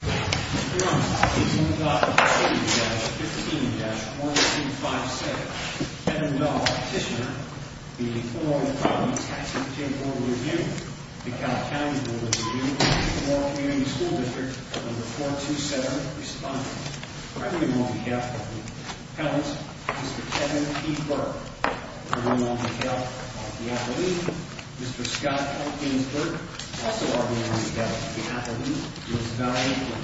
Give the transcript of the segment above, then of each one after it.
Mr. Burns v. Illinois Property Tax Appeal 15-1256 Kevin Dahl, Petitioner v. Illinois Property Tax Appeal Board of Review McAllen County Board of Review McAllen Community School District No. 427, Respondent Ernie Monticello, Appellant Mr. Kevin P. Burke Ernie Monticello, Appellant Mr. Scott L. Gainsburg Mr. Gainsburg, also arguing that the appellant was violently...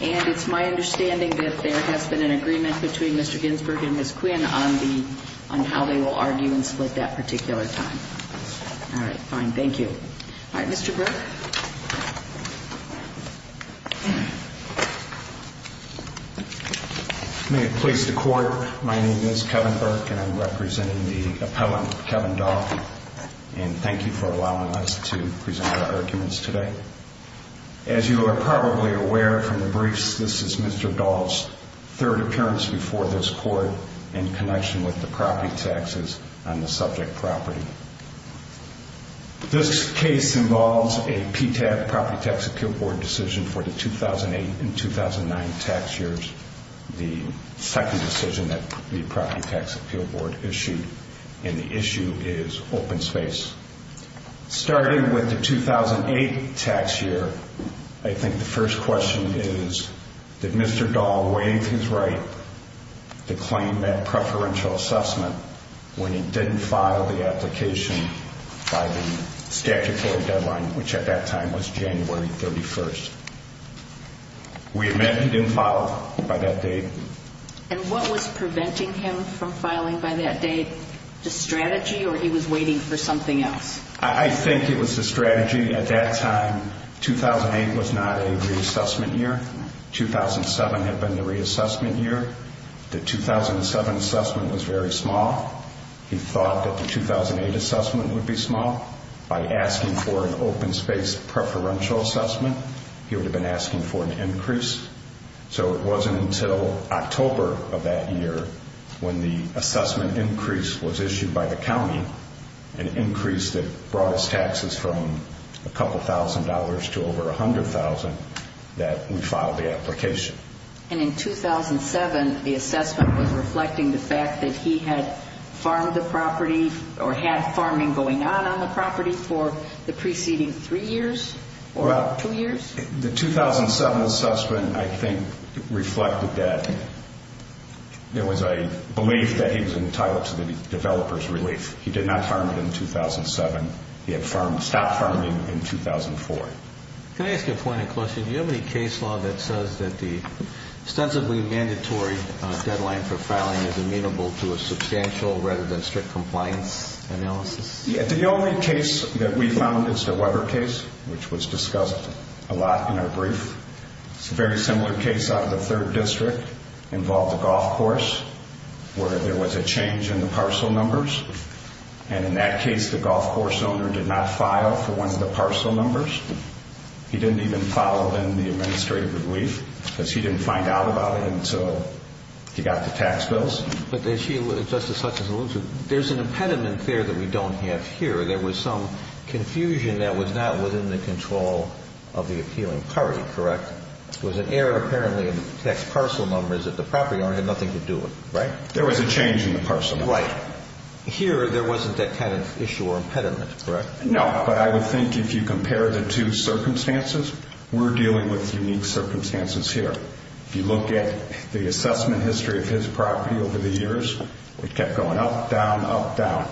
And it's my understanding that there has been an agreement between Mr. Gainsburg and Ms. Quinn on the... on how they will argue and split that particular time. Yes, madam. All right, fine, thank you. All right, Mr. Burke? May it please the court, my name is Kevin Burk and I'm representing the appellant, Kevin Dahl. And thank you for allowing us to present our arguments today. As you are probably aware from the briefs, this is Mr. Dahl's third appearance before this court in connection with the property taxes on the subject property. This case involves a PTAP, Property Tax Appeal Board, decision for the 2008 and 2009 tax years. The second decision that the Property Tax Appeal Board issued, and the issue is open space. Starting with the 2008 tax year, I think the first question is, did Mr. Dahl waive his right to claim that preferential assessment when he didn't file the application by the statutory deadline, which at that time was January 31st? We admit he didn't file by that date. And what was preventing him from filing by that date? The strategy or he was waiting for something else? I think it was the strategy at that time. 2008 was not a reassessment year. 2007 had been the reassessment year. The 2007 assessment was very small. He thought that the 2008 assessment would be small. By asking for an open space preferential assessment, he would have been asking for an increase. So it wasn't until October of that year when the assessment increase was issued by the county, an increase that brought us taxes from a couple thousand dollars to over a hundred thousand, that we filed the application. And in 2007, the assessment was reflecting the fact that he had farmed the property or had farming going on on the property for the preceding three years or two years? The 2007 assessment, I think, reflected that. There was a belief that he was entitled to the developer's relief. He did not farm it in 2007. He had stopped farming in 2004. Can I ask you a point of question? Do you have any case law that says that the ostensibly mandatory deadline for filing is amenable to a substantial rather than strict compliance analysis? The only case that we found is the Weber case, which was discussed a lot in our brief. It's a very similar case out of the 3rd District. It involved a golf course where there was a change in the parcel numbers. And in that case, the golf course owner did not file for one of the parcel numbers. He didn't even file in the administrative relief because he didn't find out about it until he got the tax bills. But, Justice Hutchins, there's an impediment there that we don't have here. There was some confusion that was not within the control of the appealing party, correct? There was an error apparently in the tax parcel numbers that the property owner had nothing to do with, right? There was a change in the parcel numbers. Right. Here there wasn't that kind of issue or impediment, correct? No, but I would think if you compare the two circumstances, we're dealing with unique circumstances here. If you look at the assessment history of his property over the years, it kept going up, down, up, down.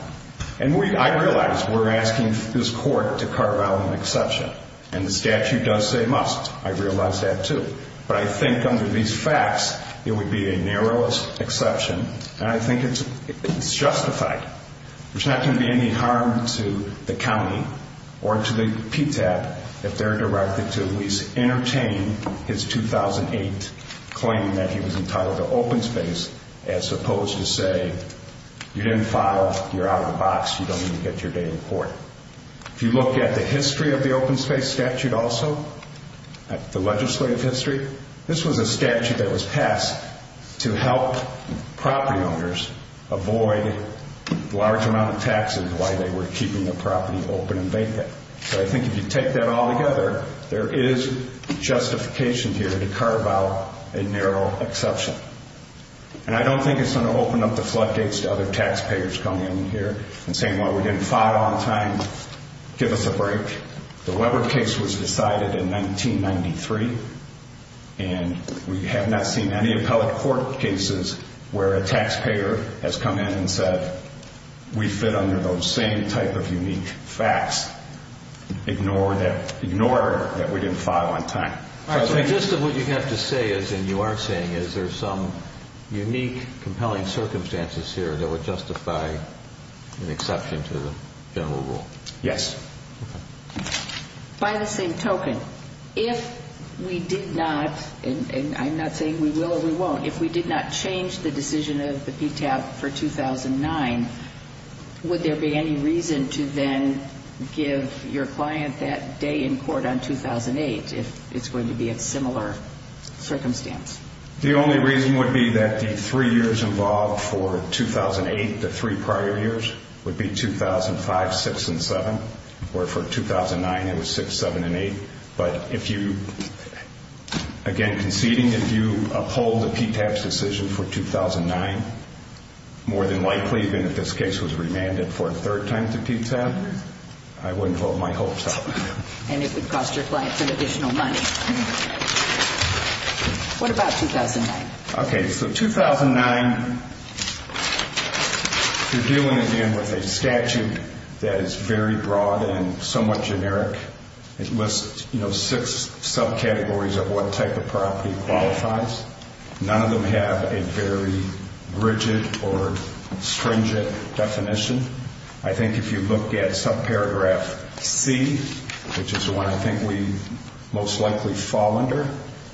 And I realize we're asking this court to carve out an exception. And the statute does say must. I realize that too. But I think under these facts, it would be a narrowest exception. And I think it's justified. There's not going to be any harm to the county or to the PTAP if they're directed to at least entertain his 2008 claim that he was entitled to open space as opposed to say, you didn't file, you're out of the box, you don't need to get your date in court. If you look at the history of the open space statute also, the legislative history, this was a statute that was passed to help property owners avoid a large amount of taxes while they were keeping the property open and vacant. So I think if you take that all together, there is justification here to carve out a narrow exception. And I don't think it's going to open up the floodgates to other taxpayers coming in here and saying, well, we didn't file on time, give us a break. The Webber case was decided in 1993, and we have not seen any appellate court cases where a taxpayer has come in and said, we fit under those same type of unique facts. Ignore that we didn't file on time. Just what you have to say is, and you are saying is, there's some unique compelling circumstances here that would justify an exception to the general rule. Yes. By the same token, if we did not, and I'm not saying we will or we won't, if we did not change the decision of the PTAP for 2009, would there be any reason to then give your client that day in court on 2008 if it's going to be a similar circumstance? The only reason would be that the three years involved for 2008, the three prior years, would be 2005, 6, and 7, where for 2009 it was 6, 7, and 8. But if you, again conceding, if you uphold the PTAP's decision for 2009, more than likely, even if this case was remanded for a third time to PTAP, I wouldn't hold my hopes up. And it would cost your client some additional money. What about 2009? Okay, so 2009, you're dealing again with a statute that is very broad and somewhat generic. It lists six subcategories of what type of property qualifies. None of them have a very rigid or stringent definition. I think if you look at subparagraph C, which is the one I think we most likely fall under,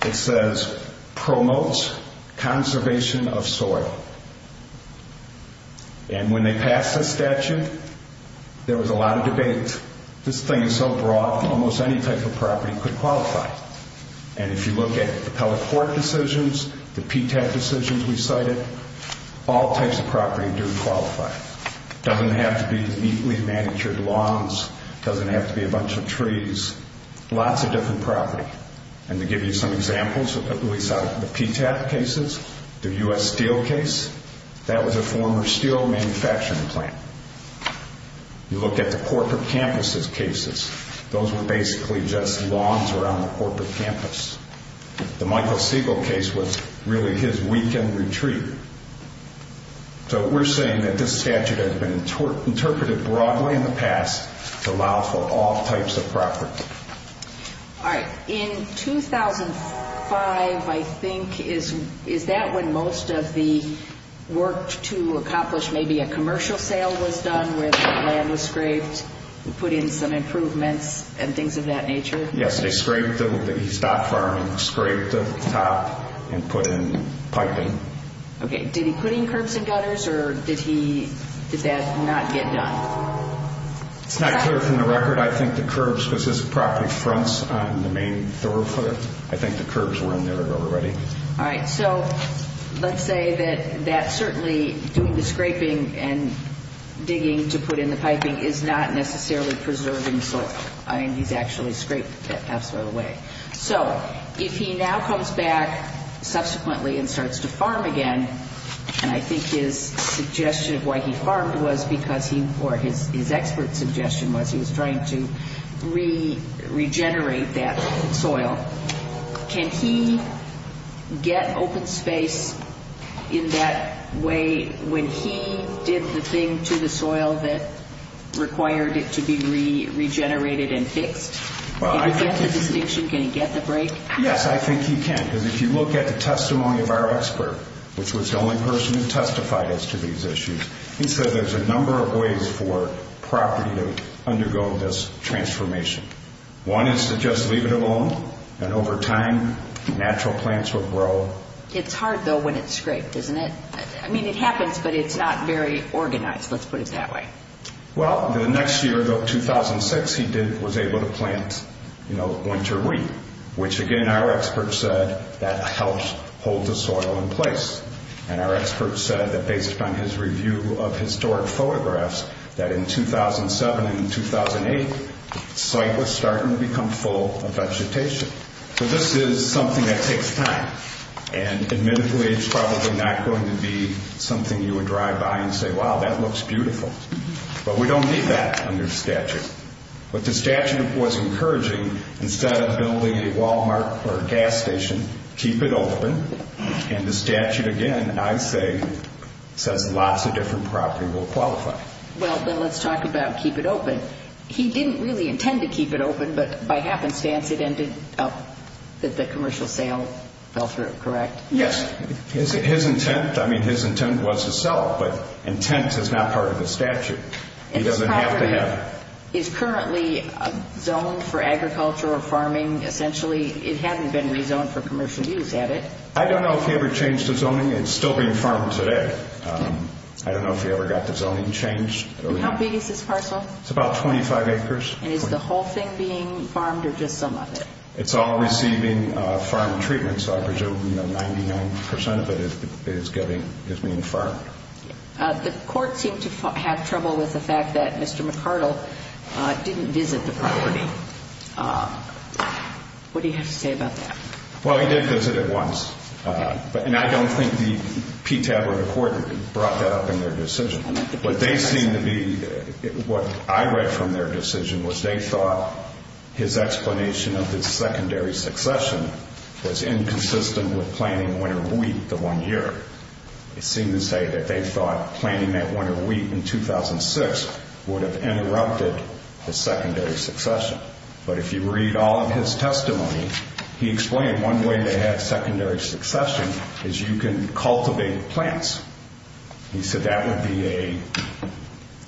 it says promotes conservation of soil. And when they passed the statute, there was a lot of debate. This thing is so broad, almost any type of property could qualify. And if you look at the appellate court decisions, the PTAP decisions we cited, all types of property do qualify. It doesn't have to be neatly manicured lawns. It doesn't have to be a bunch of trees. Lots of different property. And to give you some examples, the PTAP cases, the U.S. Steel case, that was a former steel manufacturing plant. You look at the corporate campuses cases. Those were basically just lawns around the corporate campus. The Michael Siegel case was really his weekend retreat. So we're saying that this statute has been interpreted broadly in the past to allow for all types of property. All right. In 2005, I think, is that when most of the work to accomplish maybe a commercial sale was done where the land was scraped and put in some improvements and things of that nature? Yes. They scraped the top and put in piping. Okay. Did he put in curbs and gutters, or did that not get done? It's not clear from the record. I think the curbs, because this property fronts on the main thoroughfare, I think the curbs were in there already. All right. So let's say that certainly doing the scraping and digging to put in the piping is not necessarily preserving soil. I mean, he's actually scraped it half the way. So if he now comes back subsequently and starts to farm again, and I think his suggestion of why he farmed was because he, or his expert suggestion was he was trying to regenerate that soil. Can he get open space in that way when he did the thing to the soil that required it to be regenerated and fixed? Can he get the distinction? Can he get the break? Yes, I think he can. Because if you look at the testimony of our expert, which was the only person who testified as to these issues, he said there's a number of ways for property to undergo this transformation. One is to just leave it alone, and over time, natural plants will grow. It's hard, though, when it's scraped, isn't it? I mean, it happens, but it's not very organized. Let's put it that way. Well, the next year, 2006, he was able to plant winter wheat, which, again, our expert said that helps hold the soil in place. And our expert said that based upon his review of historic photographs, that in 2007 and 2008, the site was starting to become full of vegetation. So this is something that takes time, and admittedly it's probably not going to be something you would drive by and say, wow, that looks beautiful. But we don't need that under the statute. What the statute was encouraging, instead of building a Walmart or a gas station, keep it open, and the statute, again, I say, says lots of different property will qualify. Well, Bill, let's talk about keep it open. He didn't really intend to keep it open, but by happenstance it ended up that the commercial sale fell through, correct? Yes. His intent, I mean, his intent was to sell it, but intent is not part of the statute. He doesn't have to have it. And this parcel is currently zoned for agriculture or farming, essentially. It hadn't been rezoned for commercial use, had it? I don't know if he ever changed the zoning. It's still being farmed today. I don't know if he ever got the zoning changed. And how big is this parcel? It's about 25 acres. And is the whole thing being farmed or just some of it? It's all receiving farm treatment, so I presume 99% of it is being farmed. The court seemed to have trouble with the fact that Mr. McArdle didn't visit the property. What do you have to say about that? Well, he did visit it once. And I don't think the PTAB or the court brought that up in their decision. What they seem to be, what I read from their decision, was they thought his explanation of the secondary succession was inconsistent with planning winter wheat the one year. It seemed to say that they thought planting that winter wheat in 2006 would have interrupted the secondary succession. But if you read all of his testimony, he explained one way to have secondary succession is you can cultivate plants. He said that would be a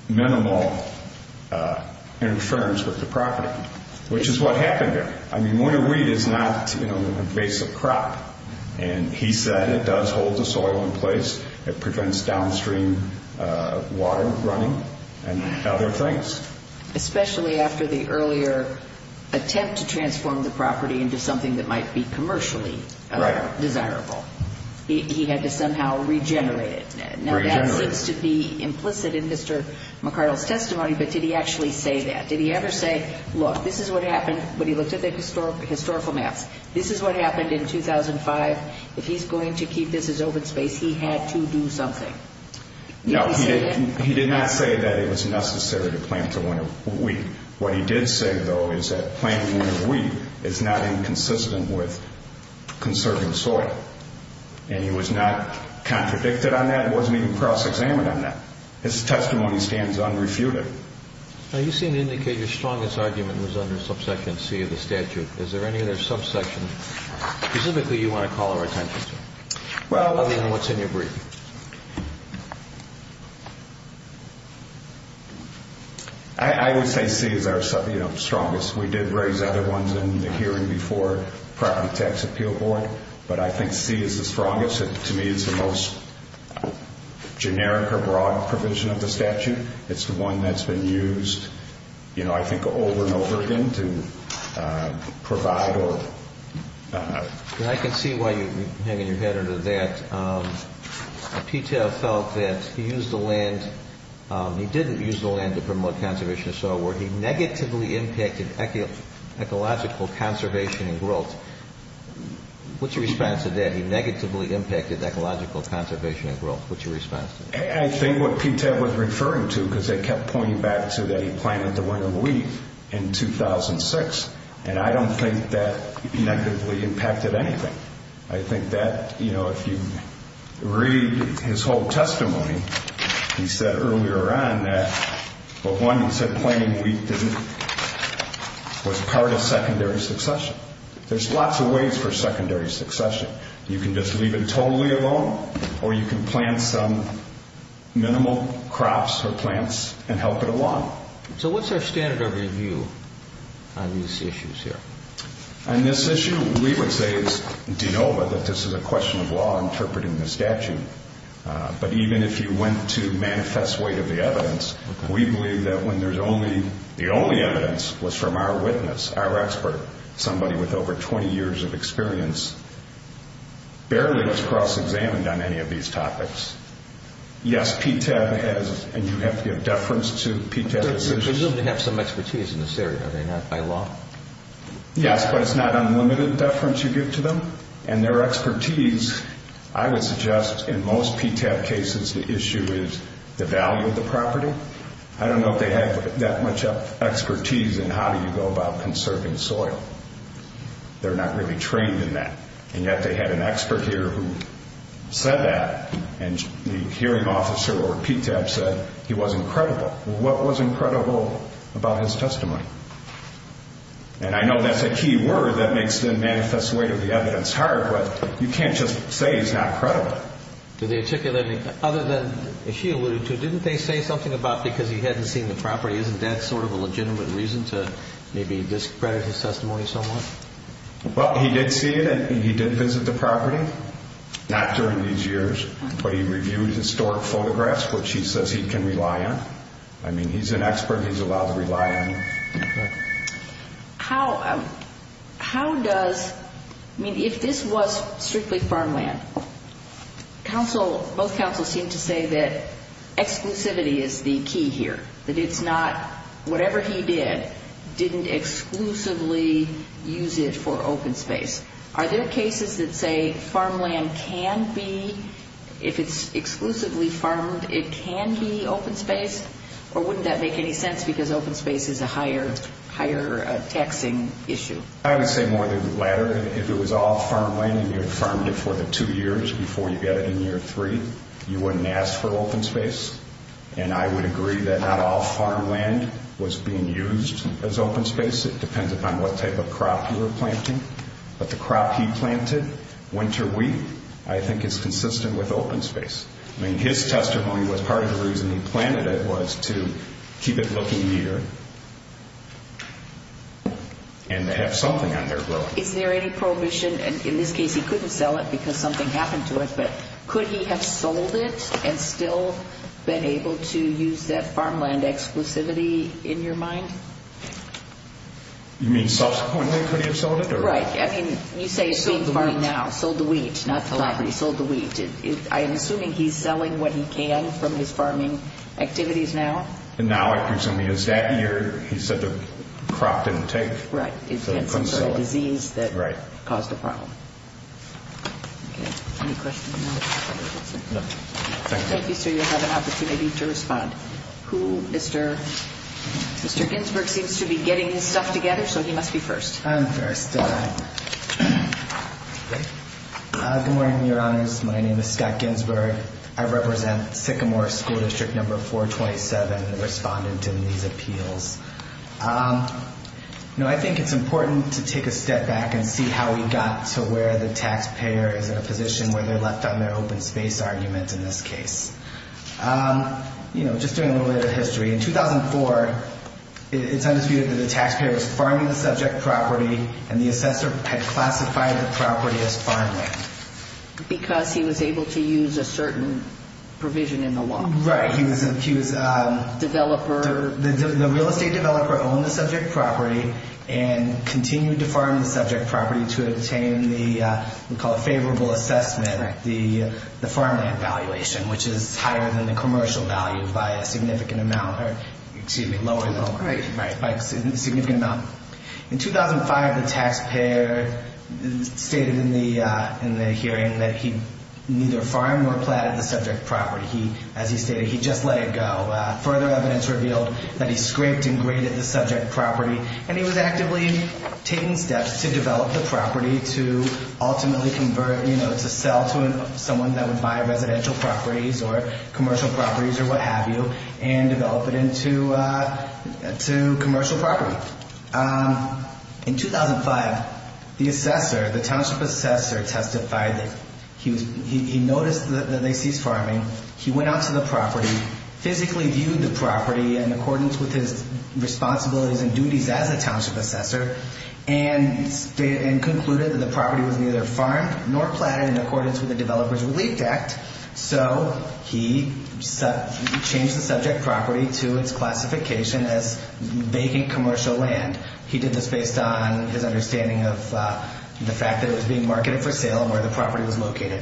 minimal interference with the property, which is what happened there. I mean, winter wheat is not an invasive crop. And he said it does hold the soil in place. It prevents downstream water running and other things. Especially after the earlier attempt to transform the property into something that might be commercially desirable. He had to somehow regenerate it. Now, that seems to be implicit in Mr. McArdle's testimony, but did he actually say that? Did he ever say, look, this is what happened when he looked at the historical maps. This is what happened in 2005. If he's going to keep this as open space, he had to do something. No, he did not say that it was necessary to plant the winter wheat. What he did say, though, is that planting winter wheat is not inconsistent with conserving soil. And he was not contradicted on that and wasn't even cross-examined on that. His testimony stands unrefuted. Now, you seem to indicate your strongest argument was under subsection C of the statute. Is there any other subsection specifically you want to call our attention to? Other than what's in your brief. I would say C is our strongest. We did raise other ones in the hearing before the Tax Appeal Board. But I think C is the strongest. To me, it's the most generic or broad provision of the statute. It's the one that's been used, I think, over and over again to provide or I can see why you're hanging your head under that. PTAF felt that he used the land, he didn't use the land to promote conservation of soil where he negatively impacted ecological conservation and growth. What's your response to that? He negatively impacted ecological conservation and growth. What's your response to that? I think what PTAF was referring to, because they kept pointing back to that he planted the winter wheat in 2006, and I don't think that negatively impacted anything. I think that, you know, if you read his whole testimony, he said earlier on that, well, one, he said planting wheat was part of secondary succession. There's lots of ways for secondary succession. You can just leave it totally alone, or you can plant some minimal crops or plants and help it along. So what's our standard of review on these issues here? On this issue, we would say it's de novo that this is a question of law interpreting the statute. But even if you went to manifest weight of the evidence, we believe that when there's only The only evidence was from our witness, our expert, somebody with over 20 years of experience. Barely was cross-examined on any of these topics. Yes, PTAF has, and you have to give deference to PTAF decisions. Presumably they have some expertise in this area, are they not, by law? Yes, but it's not unlimited deference you give to them. And their expertise, I would suggest in most PTAF cases the issue is the value of the property. I don't know if they have that much expertise in how do you go about conserving soil. They're not really trained in that. And yet they had an expert here who said that, and the hearing officer or PTAF said he was incredible. What was incredible about his testimony? And I know that's a key word that makes the manifest weight of the evidence hard, but you can't just say he's not credible. Other than she alluded to, didn't they say something about because he hadn't seen the property, isn't that sort of a legitimate reason to maybe discredit his testimony somewhat? Well, he did see it and he did visit the property, not during these years. But he reviewed historic photographs, which he says he can rely on. I mean, he's an expert, he's allowed to rely on them. How does, I mean, if this was strictly farmland, both counsels seem to say that exclusivity is the key here, that it's not whatever he did didn't exclusively use it for open space. Are there cases that say farmland can be, if it's exclusively farmed, it can be open space? Or wouldn't that make any sense because open space is a higher taxing issue? I would say more the latter. If it was all farmland and you had farmed it for the two years before you got it in year three, you wouldn't ask for open space. And I would agree that not all farmland was being used as open space. It depends upon what type of crop you were planting. But the crop he planted, winter wheat, I think is consistent with open space. I mean, his testimony was part of the reason he planted it was to keep it looking neater and to have something on there growing. Is there any prohibition, and in this case he couldn't sell it because something happened to it, but could he have sold it and still been able to use that farmland exclusivity in your mind? You mean subsequently could he have sold it? Right, I mean, you say sold the wheat, not the library, sold the wheat. I'm assuming he's selling what he can from his farming activities now? Now I presume he is. That year he said the crop didn't take. Right. So he couldn't sell it. It's some sort of disease that caused the problem. Any questions? Thank you, sir. You'll have an opportunity to respond. Mr. Ginsburg seems to be getting his stuff together, so he must be first. I'm first. Good morning, Your Honors. My name is Scott Ginsburg. I represent Sycamore School District Number 427, the respondent in these appeals. You know, I think it's important to take a step back and see how we got to where the taxpayer is in a position where they're left on their open space argument in this case. You know, just doing a little bit of history. In 2004, it's undisputed that the taxpayer was farming the subject property and the assessor had classified the property as farmland. Because he was able to use a certain provision in the law. Right. He was a developer. The real estate developer owned the subject property and continued to farm the subject property to obtain the, we call it favorable assessment, the farmland valuation, which is higher than the commercial value by a significant amount. Excuse me, lower than. Right. By a significant amount. In 2005, the taxpayer stated in the hearing that he neither farmed nor platted the subject property. As he stated, he just let it go. Further evidence revealed that he scraped and graded the subject property. And he was actively taking steps to develop the property to ultimately convert, you know, to sell to someone that would buy residential properties or commercial properties or what have you and develop it into commercial property. In 2005, the assessor, the township assessor testified that he noticed that they ceased farming. He went out to the property, physically viewed the property in accordance with his responsibilities and duties as a township assessor, and concluded that the property was neither farmed nor platted in accordance with the Developer's Relief Act. So he changed the subject property to its classification as vacant commercial land. He did this based on his understanding of the fact that it was being marketed for sale and where the property was located.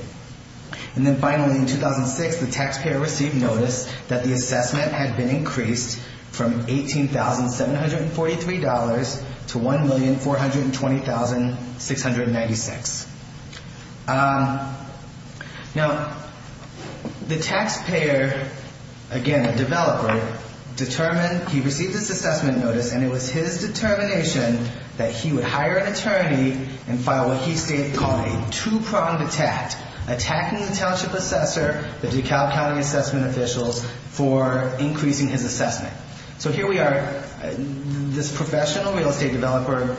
And then finally, in 2006, the taxpayer received notice that the assessment had been increased from $18,743 to $1,420,696. Now, the taxpayer, again, the developer, determined he received this assessment notice, and it was his determination that he would hire an attorney and file what he called a two-pronged attack, attacking the township assessor, the DeKalb County assessment officials, for increasing his assessment. So here we are, this professional real estate developer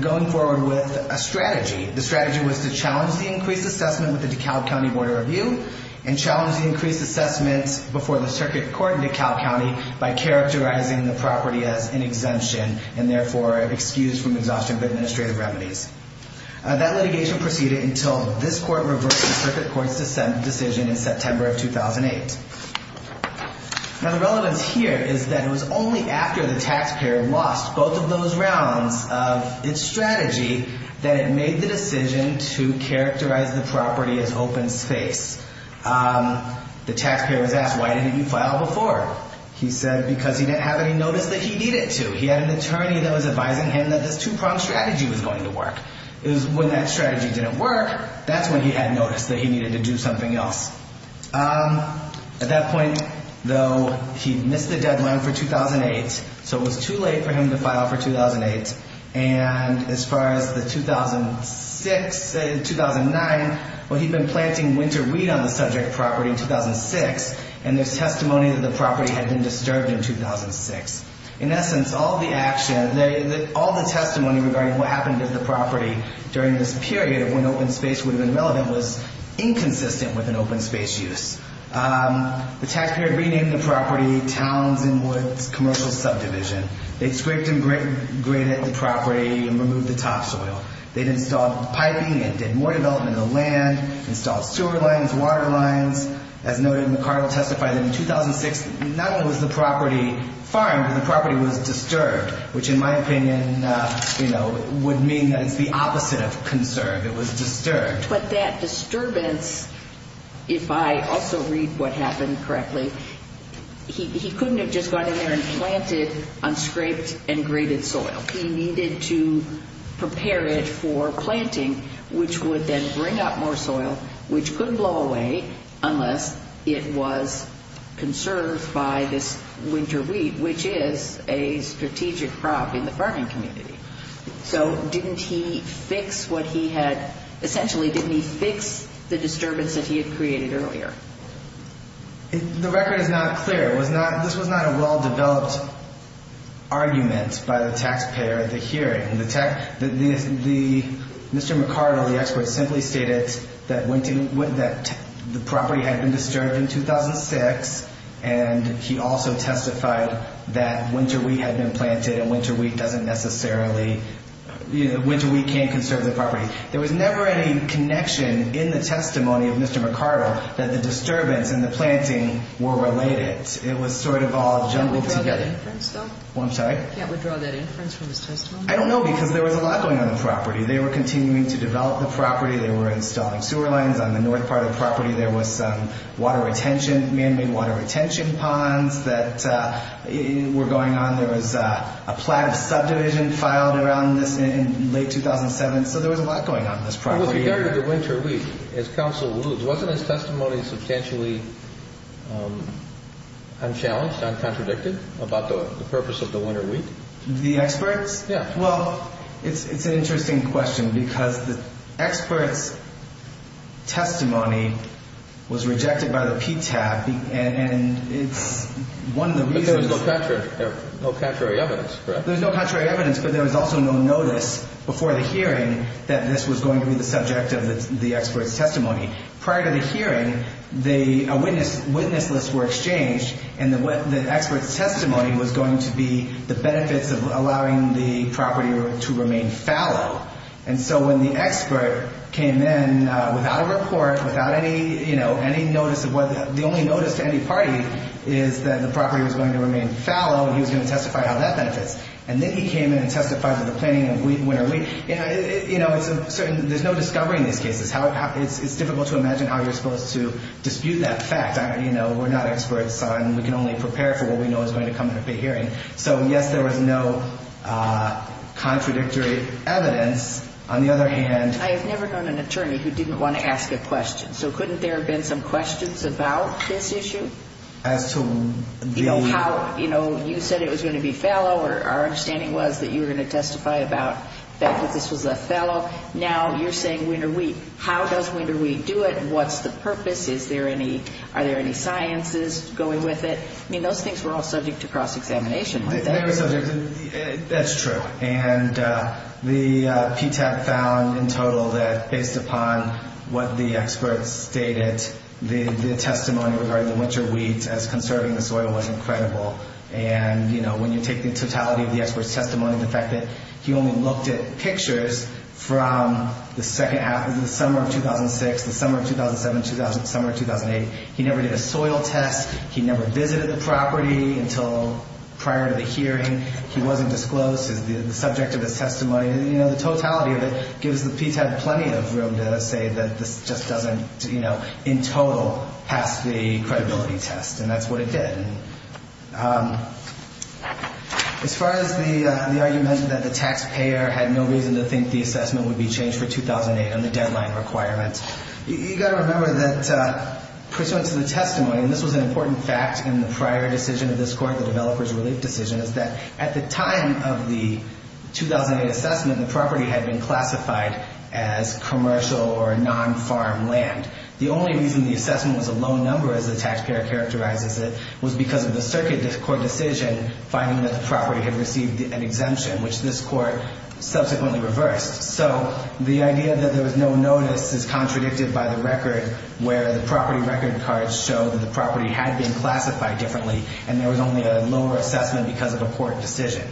going forward with a strategy. The strategy was to challenge the increased assessment with the DeKalb County Board of Review and challenge the increased assessment before the circuit court in DeKalb County by characterizing the property as an exemption and therefore an excuse from exhaustion of administrative remedies. That litigation proceeded until this court reversed the circuit court's decision in September of 2008. Now, the relevance here is that it was only after the taxpayer lost both of those rounds of its strategy that it made the decision to characterize the property as open space. The taxpayer was asked, why didn't you file before? He said because he didn't have any notice that he needed to. He had an attorney that was advising him that this two-pronged strategy was going to work. It was when that strategy didn't work, that's when he had notice that he needed to do something else. At that point, though, he missed the deadline for 2008. So it was too late for him to file for 2008. And as far as the 2006, 2009, well, he'd been planting winter weed on the subject property in 2006. And there's testimony that the property had been disturbed in 2006. In essence, all the action, all the testimony regarding what happened to the property during this period of when open space would have been relevant was inconsistent with an open space use. The taxpayer renamed the property Towns and Woods Commercial Subdivision. They scraped and graded the property and removed the topsoil. They'd installed piping and did more development of the land, installed sewer lines, water lines. As noted, McArdle testified that in 2006, not only was the property farmed, but the property was disturbed, which in my opinion, you know, would mean that it's the opposite of conserved. It was disturbed. But that disturbance, if I also read what happened correctly, he couldn't have just gone in there and planted unscraped and graded soil. He needed to prepare it for planting, which would then bring up more soil, which couldn't blow away unless it was conserved by this winter weed, which is a strategic crop in the farming community. So didn't he fix what he had? Essentially, didn't he fix the disturbance that he had created earlier? The record is not clear. This was not a well-developed argument by the taxpayer at the hearing. Mr. McArdle, the expert, simply stated that the property had been disturbed in 2006, and he also testified that winter weed had been planted and winter weed doesn't necessarily ñ winter weed can't conserve the property. There was never any connection in the testimony of Mr. McArdle that the disturbance and the planting were related. It was sort of all jumbled together. Can't we draw that inference, though? I'm sorry? Can't we draw that inference from his testimony? I don't know, because there was a lot going on in the property. They were continuing to develop the property. They were installing sewer lines on the north part of the property. There was water retention, man-made water retention ponds that were going on. There was a plan of subdivision filed around this in late 2007. So there was a lot going on in this property. With regard to the winter weed, as counsel alludes, wasn't his testimony substantially unchallenged, uncontradicted about the purpose of the winter weed? The experts? Yeah. Well, it's an interesting question, because the experts' testimony was rejected by the PTAB, and it's one of the reasons ñ But there was no contrary evidence, correct? There was no contrary evidence, but there was also no notice before the hearing that this was going to be the subject of the expert's testimony. Prior to the hearing, a witness list were exchanged, and the expert's testimony was going to be the benefits of allowing the property to remain fallow. And so when the expert came in without a report, without any ñ you know, any notice of what ñ the only notice to any party is that the property was going to remain fallow, and he was going to testify how that benefits. And then he came in and testified to the planning of winter weed. You know, it's a certain ñ there's no discovery in these cases. It's difficult to imagine how you're supposed to dispute that fact. You know, we're not experts on ñ we can only prepare for what we know is going to come at a hearing. So, yes, there was no contradictory evidence. On the other hand ñ I have never known an attorney who didn't want to ask a question. So couldn't there have been some questions about this issue? As to the ñ You know, how ñ you know, you said it was going to be fallow, or our understanding was that you were going to testify about the fact that this was a fallow. Now you're saying winter weed. How does winter weed do it, and what's the purpose? Is there any ñ are there any sciences going with it? I mean, those things were all subject to cross-examination, weren't they? They were subject ñ that's true. And the PTAC found in total that, based upon what the experts stated, the testimony regarding the winter weeds as conserving the soil was incredible. And, you know, when you take the totality of the experts' testimony, the fact that he only looked at pictures from the second half of the summer of 2006, the summer of 2007, summer of 2008, he never did a soil test, he never visited the property until prior to the hearing, he wasn't disclosed as the subject of his testimony. You know, the totality of it gives the PTAC plenty of room to say that this just doesn't, you know, in total pass the credibility test, and that's what it did. As far as the argument that the taxpayer had no reason to think the assessment would be changed for 2008 on the deadline requirement, you've got to remember that, pursuant to the testimony, and this was an important fact in the prior decision of this court, the developer's relief decision, is that at the time of the 2008 assessment, the property had been classified as commercial or non-farm land. The only reason the assessment was a low number, as the taxpayer characterizes it, was because of the circuit court decision finding that the property had received an exemption, which this court subsequently reversed. So the idea that there was no notice is contradicted by the record where the property record cards show that the property had been classified differently and there was only a lower assessment because of a court decision.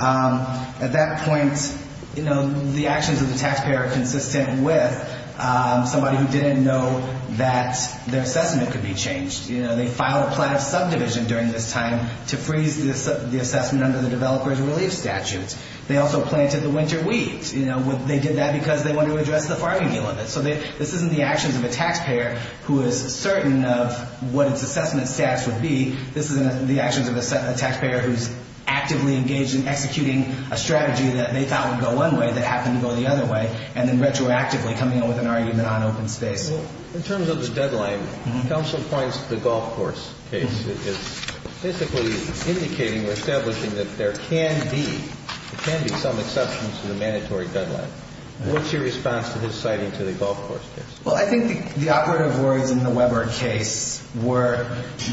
At that point, you know, the actions of the taxpayer are consistent with somebody who didn't know that their assessment could be changed. You know, they filed a plan of subdivision during this time to freeze the assessment under the developer's relief statutes. They also planted the winter weeds. You know, they did that because they wanted to address the farming deal of it. So this isn't the actions of a taxpayer who is certain of what its assessment stats would be. This is the actions of a taxpayer who's actively engaged in executing a strategy that they thought would go one way that happened to go the other way and then retroactively coming up with an argument on open space. In terms of the deadline, counsel points to the golf course case. It's basically indicating or establishing that there can be, there can be some exceptions to the mandatory deadline. What's your response to his citing to the golf course case? Well, I think the operative words in the Weber case were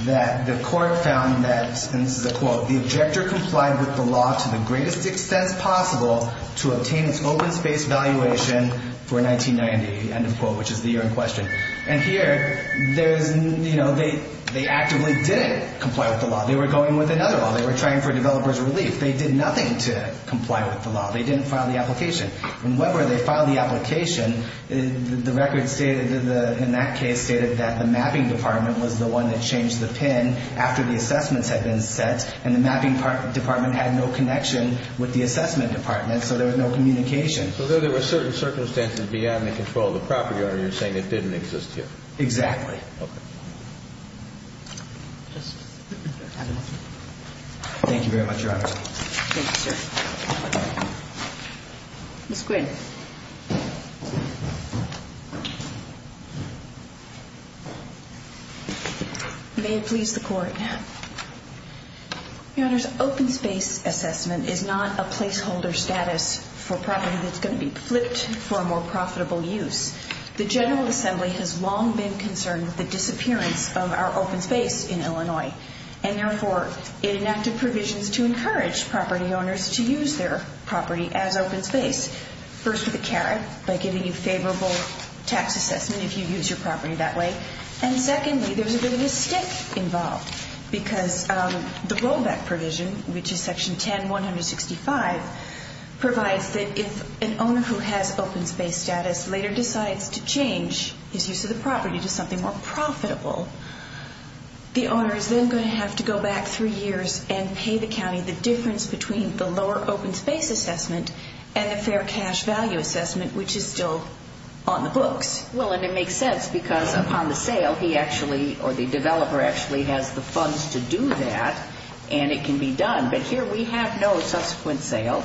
that the court found that, and this is a quote, the objector complied with the law to the greatest extent possible to obtain its open space valuation for 1990, end of quote, which is the year in question. And here, there's, you know, they actively didn't comply with the law. They were going with another law. They were trying for developer's relief. They did nothing to comply with the law. They didn't file the application. In Weber, they filed the application. The record stated, in that case, stated that the mapping department was the one that changed the pin after the assessments had been set, and the mapping department had no connection with the assessment department, so there was no communication. So there were certain circumstances beyond the control of the property owner saying it didn't exist here? Exactly. Okay. Thank you very much, Your Honor. Thank you, sir. Ms. Quinn. May it please the Court. Your Honor, open space assessment is not a placeholder status for property that's going to be flipped for a more profitable use. The General Assembly has long been concerned with the disappearance of our open space in Illinois, and therefore, it enacted provisions to encourage property owners to use their property as open space, first with a carrot by giving you favorable tax assessment if you use your property that way, and secondly, there's a bit of a stick involved because the rollback provision, which is Section 10-165, provides that if an owner who has open space status later decides to change his use of the property to something more profitable, the owner is then going to have to go back through years and pay the county the difference between the lower open space assessment and the fair cash value assessment, which is still on the books. Well, and it makes sense because upon the sale, he actually, or the developer actually has the funds to do that, and it can be done, but here we have no subsequent sale.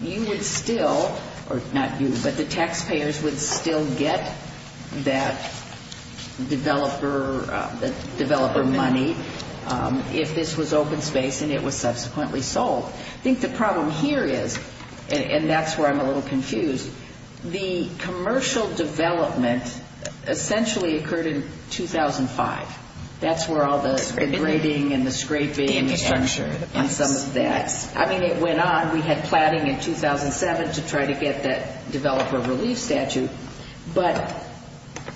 You would still, or not you, but the taxpayers would still get that developer money if this was open space and it was subsequently sold. I think the problem here is, and that's where I'm a little confused, the commercial development essentially occurred in 2005. That's where all the engraving and the scraping and some of that. I mean, it went on. We had platting in 2007 to try to get that developer relief statute, but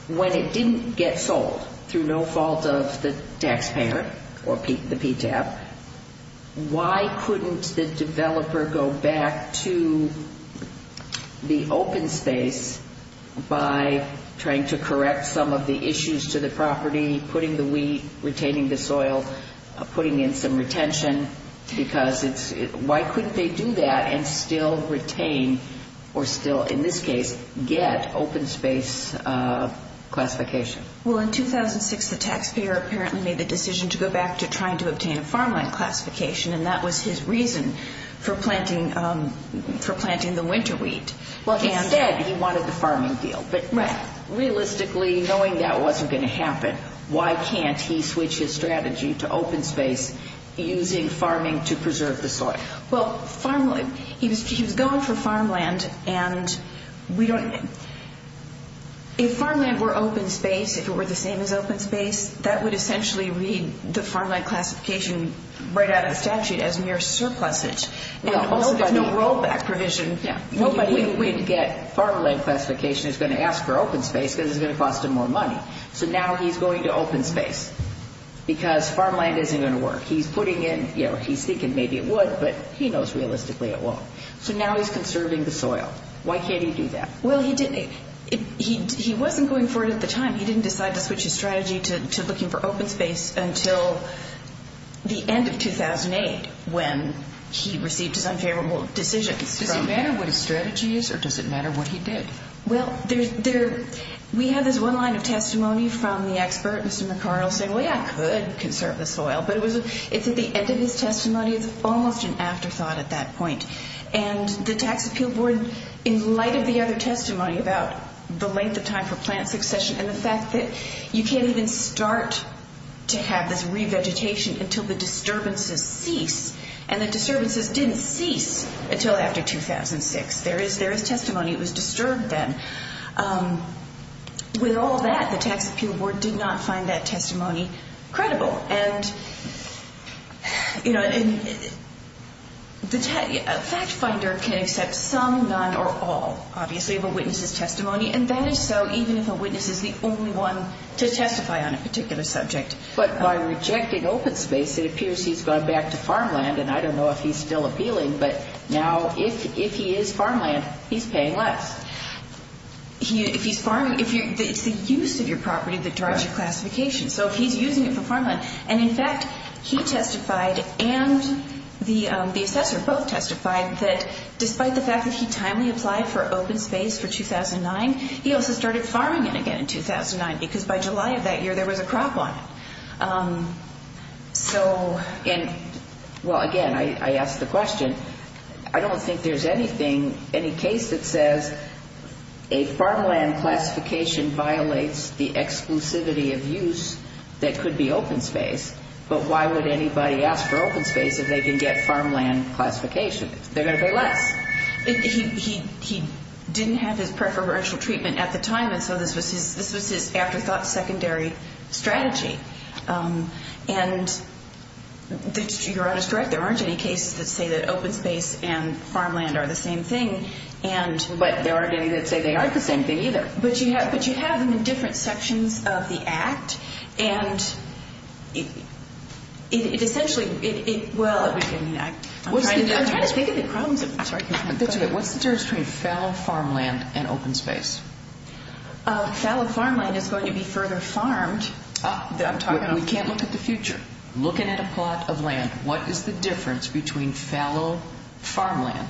when it didn't get sold through no fault of the taxpayer or the PTAP, why couldn't the developer go back to the open space by trying to correct some of the issues to the property, putting the wheat, retaining the soil, putting in some retention, because why couldn't they do that and still retain or still, in this case, get open space classification? Well, in 2006, the taxpayer apparently made the decision to go back to trying to obtain a farmland classification, and that was his reason for planting the winter wheat. Well, instead, he wanted the farming deal, but realistically, knowing that wasn't going to happen, why can't he switch his strategy to open space using farming to preserve the soil? Well, he was going for farmland, and if farmland were open space, if it were the same as open space, that would essentially read the farmland classification right out of the statute as mere surplusage. Also, there's no rollback provision. Nobody would get farmland classification that's going to ask for open space because it's going to cost them more money. So now he's going to open space because farmland isn't going to work. He's thinking maybe it would, but he knows realistically it won't. So now he's conserving the soil. Why can't he do that? Well, he wasn't going for it at the time. He didn't decide to switch his strategy to looking for open space until the end of 2008 when he received his unfavorable decisions. Does it matter what his strategy is, or does it matter what he did? Well, we have this one line of testimony from the expert, Mr. McArdle, saying, Oh, yeah, I could conserve the soil, but it's at the end of his testimony. It's almost an afterthought at that point. And the Tax Appeal Board, in light of the other testimony about the length of time for plant succession and the fact that you can't even start to have this revegetation until the disturbances cease, and the disturbances didn't cease until after 2006. There is testimony. It was disturbed then. With all that, the Tax Appeal Board did not find that testimony credible. A fact finder can accept some, none, or all, obviously, of a witness's testimony, and that is so even if a witness is the only one to testify on a particular subject. But by rejecting open space, it appears he's gone back to farmland, and I don't know if he's still appealing, but now if he is farmland, he's paying less. If he's farming, it's the use of your property that drives your classification. So if he's using it for farmland, and in fact, he testified and the assessor both testified that despite the fact that he timely applied for open space for 2009, he also started farming it again in 2009 because by July of that year, there was a crop on it. Well, again, I ask the question. I don't think there's anything, any case that says a farmland classification violates the exclusivity of use that could be open space, but why would anybody ask for open space if they can get farmland classification? They're going to pay less. He didn't have his preferential treatment at the time, and so this was his afterthought, secondary strategy. And you're honest, correct? There aren't any cases that say that open space and farmland are the same thing. But there aren't any that say they aren't the same thing either. But you have them in different sections of the Act. What's the difference between fallow farmland and open space? Fallow farmland is going to be further farmed. We can't look at the future. Looking at a plot of land, what is the difference between fallow farmland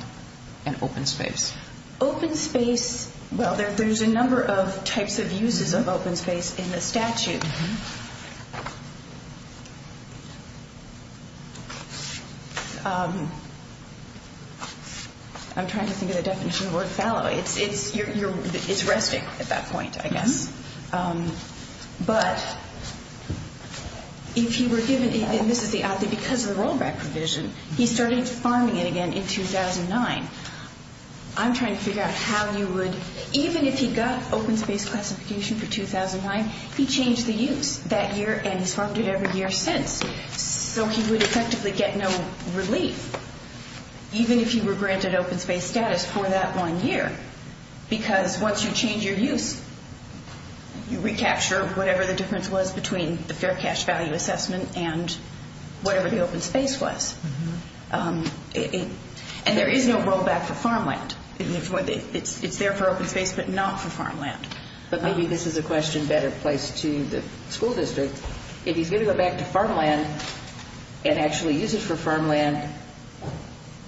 and open space? Open space, well, there's a number of types of uses of open space in the statute. I'm trying to think of the definition of the word fallow. If you were given, and this is the odd thing, because of the rollback provision, he started farming it again in 2009. I'm trying to figure out how you would, even if he got open space classification for 2009, he changed the use that year, and he's farmed it every year since. So he would effectively get no relief, even if he were granted open space status for that one year. Because once you change your use, you recapture whatever the difference was between the fair cash value assessment and whatever the open space was. And there is no rollback for farmland. It's there for open space, but not for farmland. But maybe this is a question better placed to the school district. If he's going to go back to farmland and actually use it for farmland,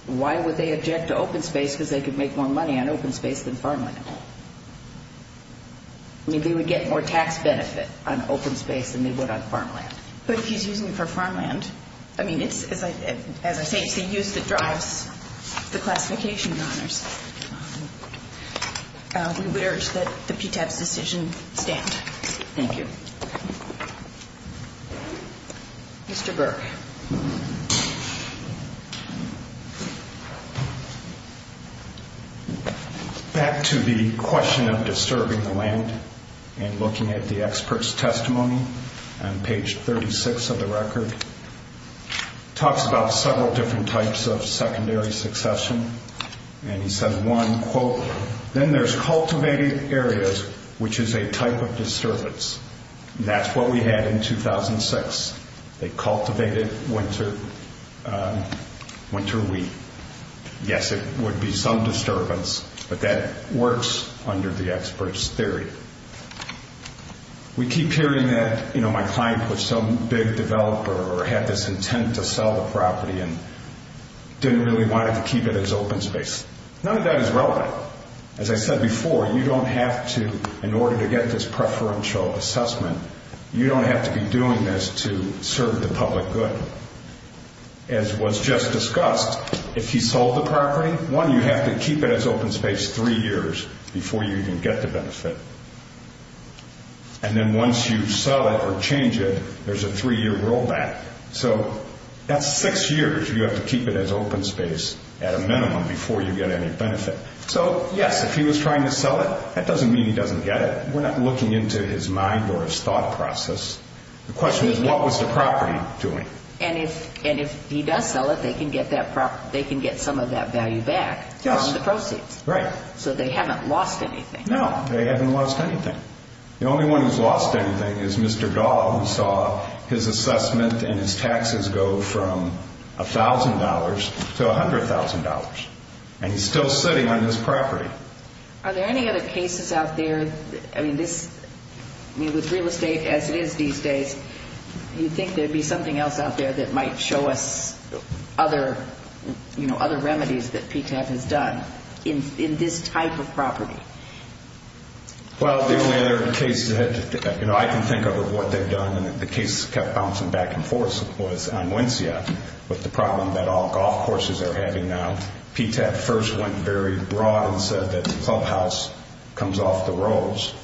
why would they object to open space? Because they could make more money on open space than farmland. I mean, they would get more tax benefit on open space than they would on farmland. But if he's using it for farmland, I mean, as I say, it's the use that drives the classification honors. We would urge that the PTAB's decision stand. Thank you. Mr. Burke. Back to the question of disturbing the land and looking at the expert's testimony on page 36 of the record. Talks about several different types of secondary succession. And he says one, quote, Then there's cultivated areas, which is a type of disturbance. That's what we had in 2006. They cultivated winter wheat. Yes, it would be some disturbance, but that works under the expert's theory. We keep hearing that, you know, my client was some big developer or had this intent to sell the property and didn't really want to keep it as open space. None of that is relevant. As I said before, you don't have to, in order to get this preferential assessment, you don't have to be doing this to serve the public good. As was just discussed, if you sold the property, one, you have to keep it as open space three years before you even get the benefit. And then once you sell it or change it, there's a three-year rollback. So that's six years you have to keep it as open space at a minimum before you get any benefit. So, yes, if he was trying to sell it, that doesn't mean he doesn't get it. We're not looking into his mind or his thought process. The question is, what was the property doing? And if he does sell it, they can get some of that value back from the proceeds. Right. So they haven't lost anything. No, they haven't lost anything. The only one who's lost anything is Mr. Dahl, who saw his assessment and his taxes go from $1,000 to $100,000. And he's still sitting on this property. Are there any other cases out there? I mean, with real estate as it is these days, do you think there would be something else out there that might show us other remedies that PTAP has done in this type of property? Well, the only other case that I can think of of what they've done, and the case kept bouncing back and forth, was on Wencia with the problem that all golf courses are having now. PTAP first went very broad and said that the clubhouse comes off the rolls.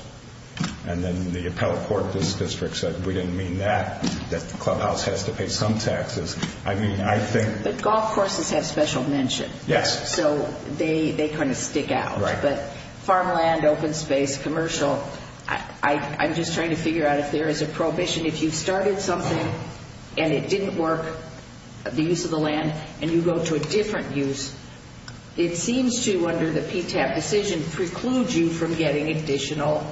And then the appellate court in this district said we didn't mean that, that the clubhouse has to pay some taxes. I mean, I think – But golf courses have special mention. Yes. So they kind of stick out. But farmland, open space, commercial, I'm just trying to figure out if there is a prohibition. If you've started something and it didn't work, the use of the land, and you go to a different use, it seems to, under the PTAP decision, preclude you from getting additional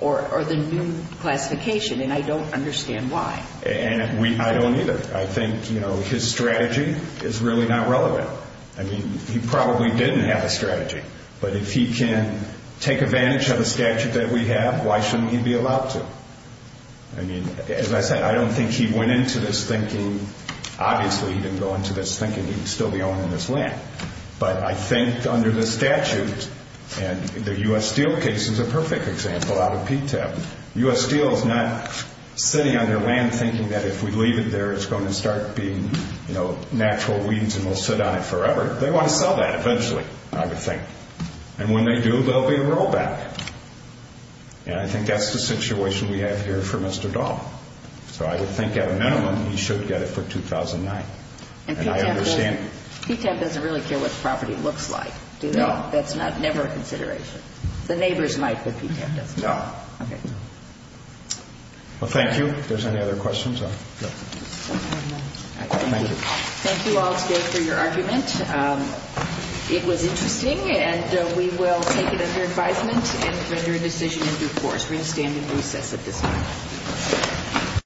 or the new classification. And I don't understand why. And I don't either. I think his strategy is really not relevant. I mean, he probably didn't have a strategy. But if he can take advantage of the statute that we have, why shouldn't he be allowed to? I mean, as I said, I don't think he went into this thinking – obviously he didn't go into this thinking he'd still be owning this land. But I think under the statute, and the U.S. Steel case is a perfect example out of PTAP, U.S. Steel is not sitting on their land thinking that if we leave it there, it's going to start being natural weeds and we'll sit on it forever. They want to sell that eventually, I would think. And when they do, there will be a rollback. And I think that's the situation we have here for Mr. Dahl. So I would think, at a minimum, he should get it for 2009. And I understand – And PTAP doesn't really care what the property looks like, do they? No. That's never a consideration. The neighbors might, but PTAP doesn't. No. Okay. Well, thank you. If there's any other questions, I'll go. Thank you. Thank you all today for your argument. It was interesting, and we will take it under advisement and render a decision in due course. We will stand in recess at this time.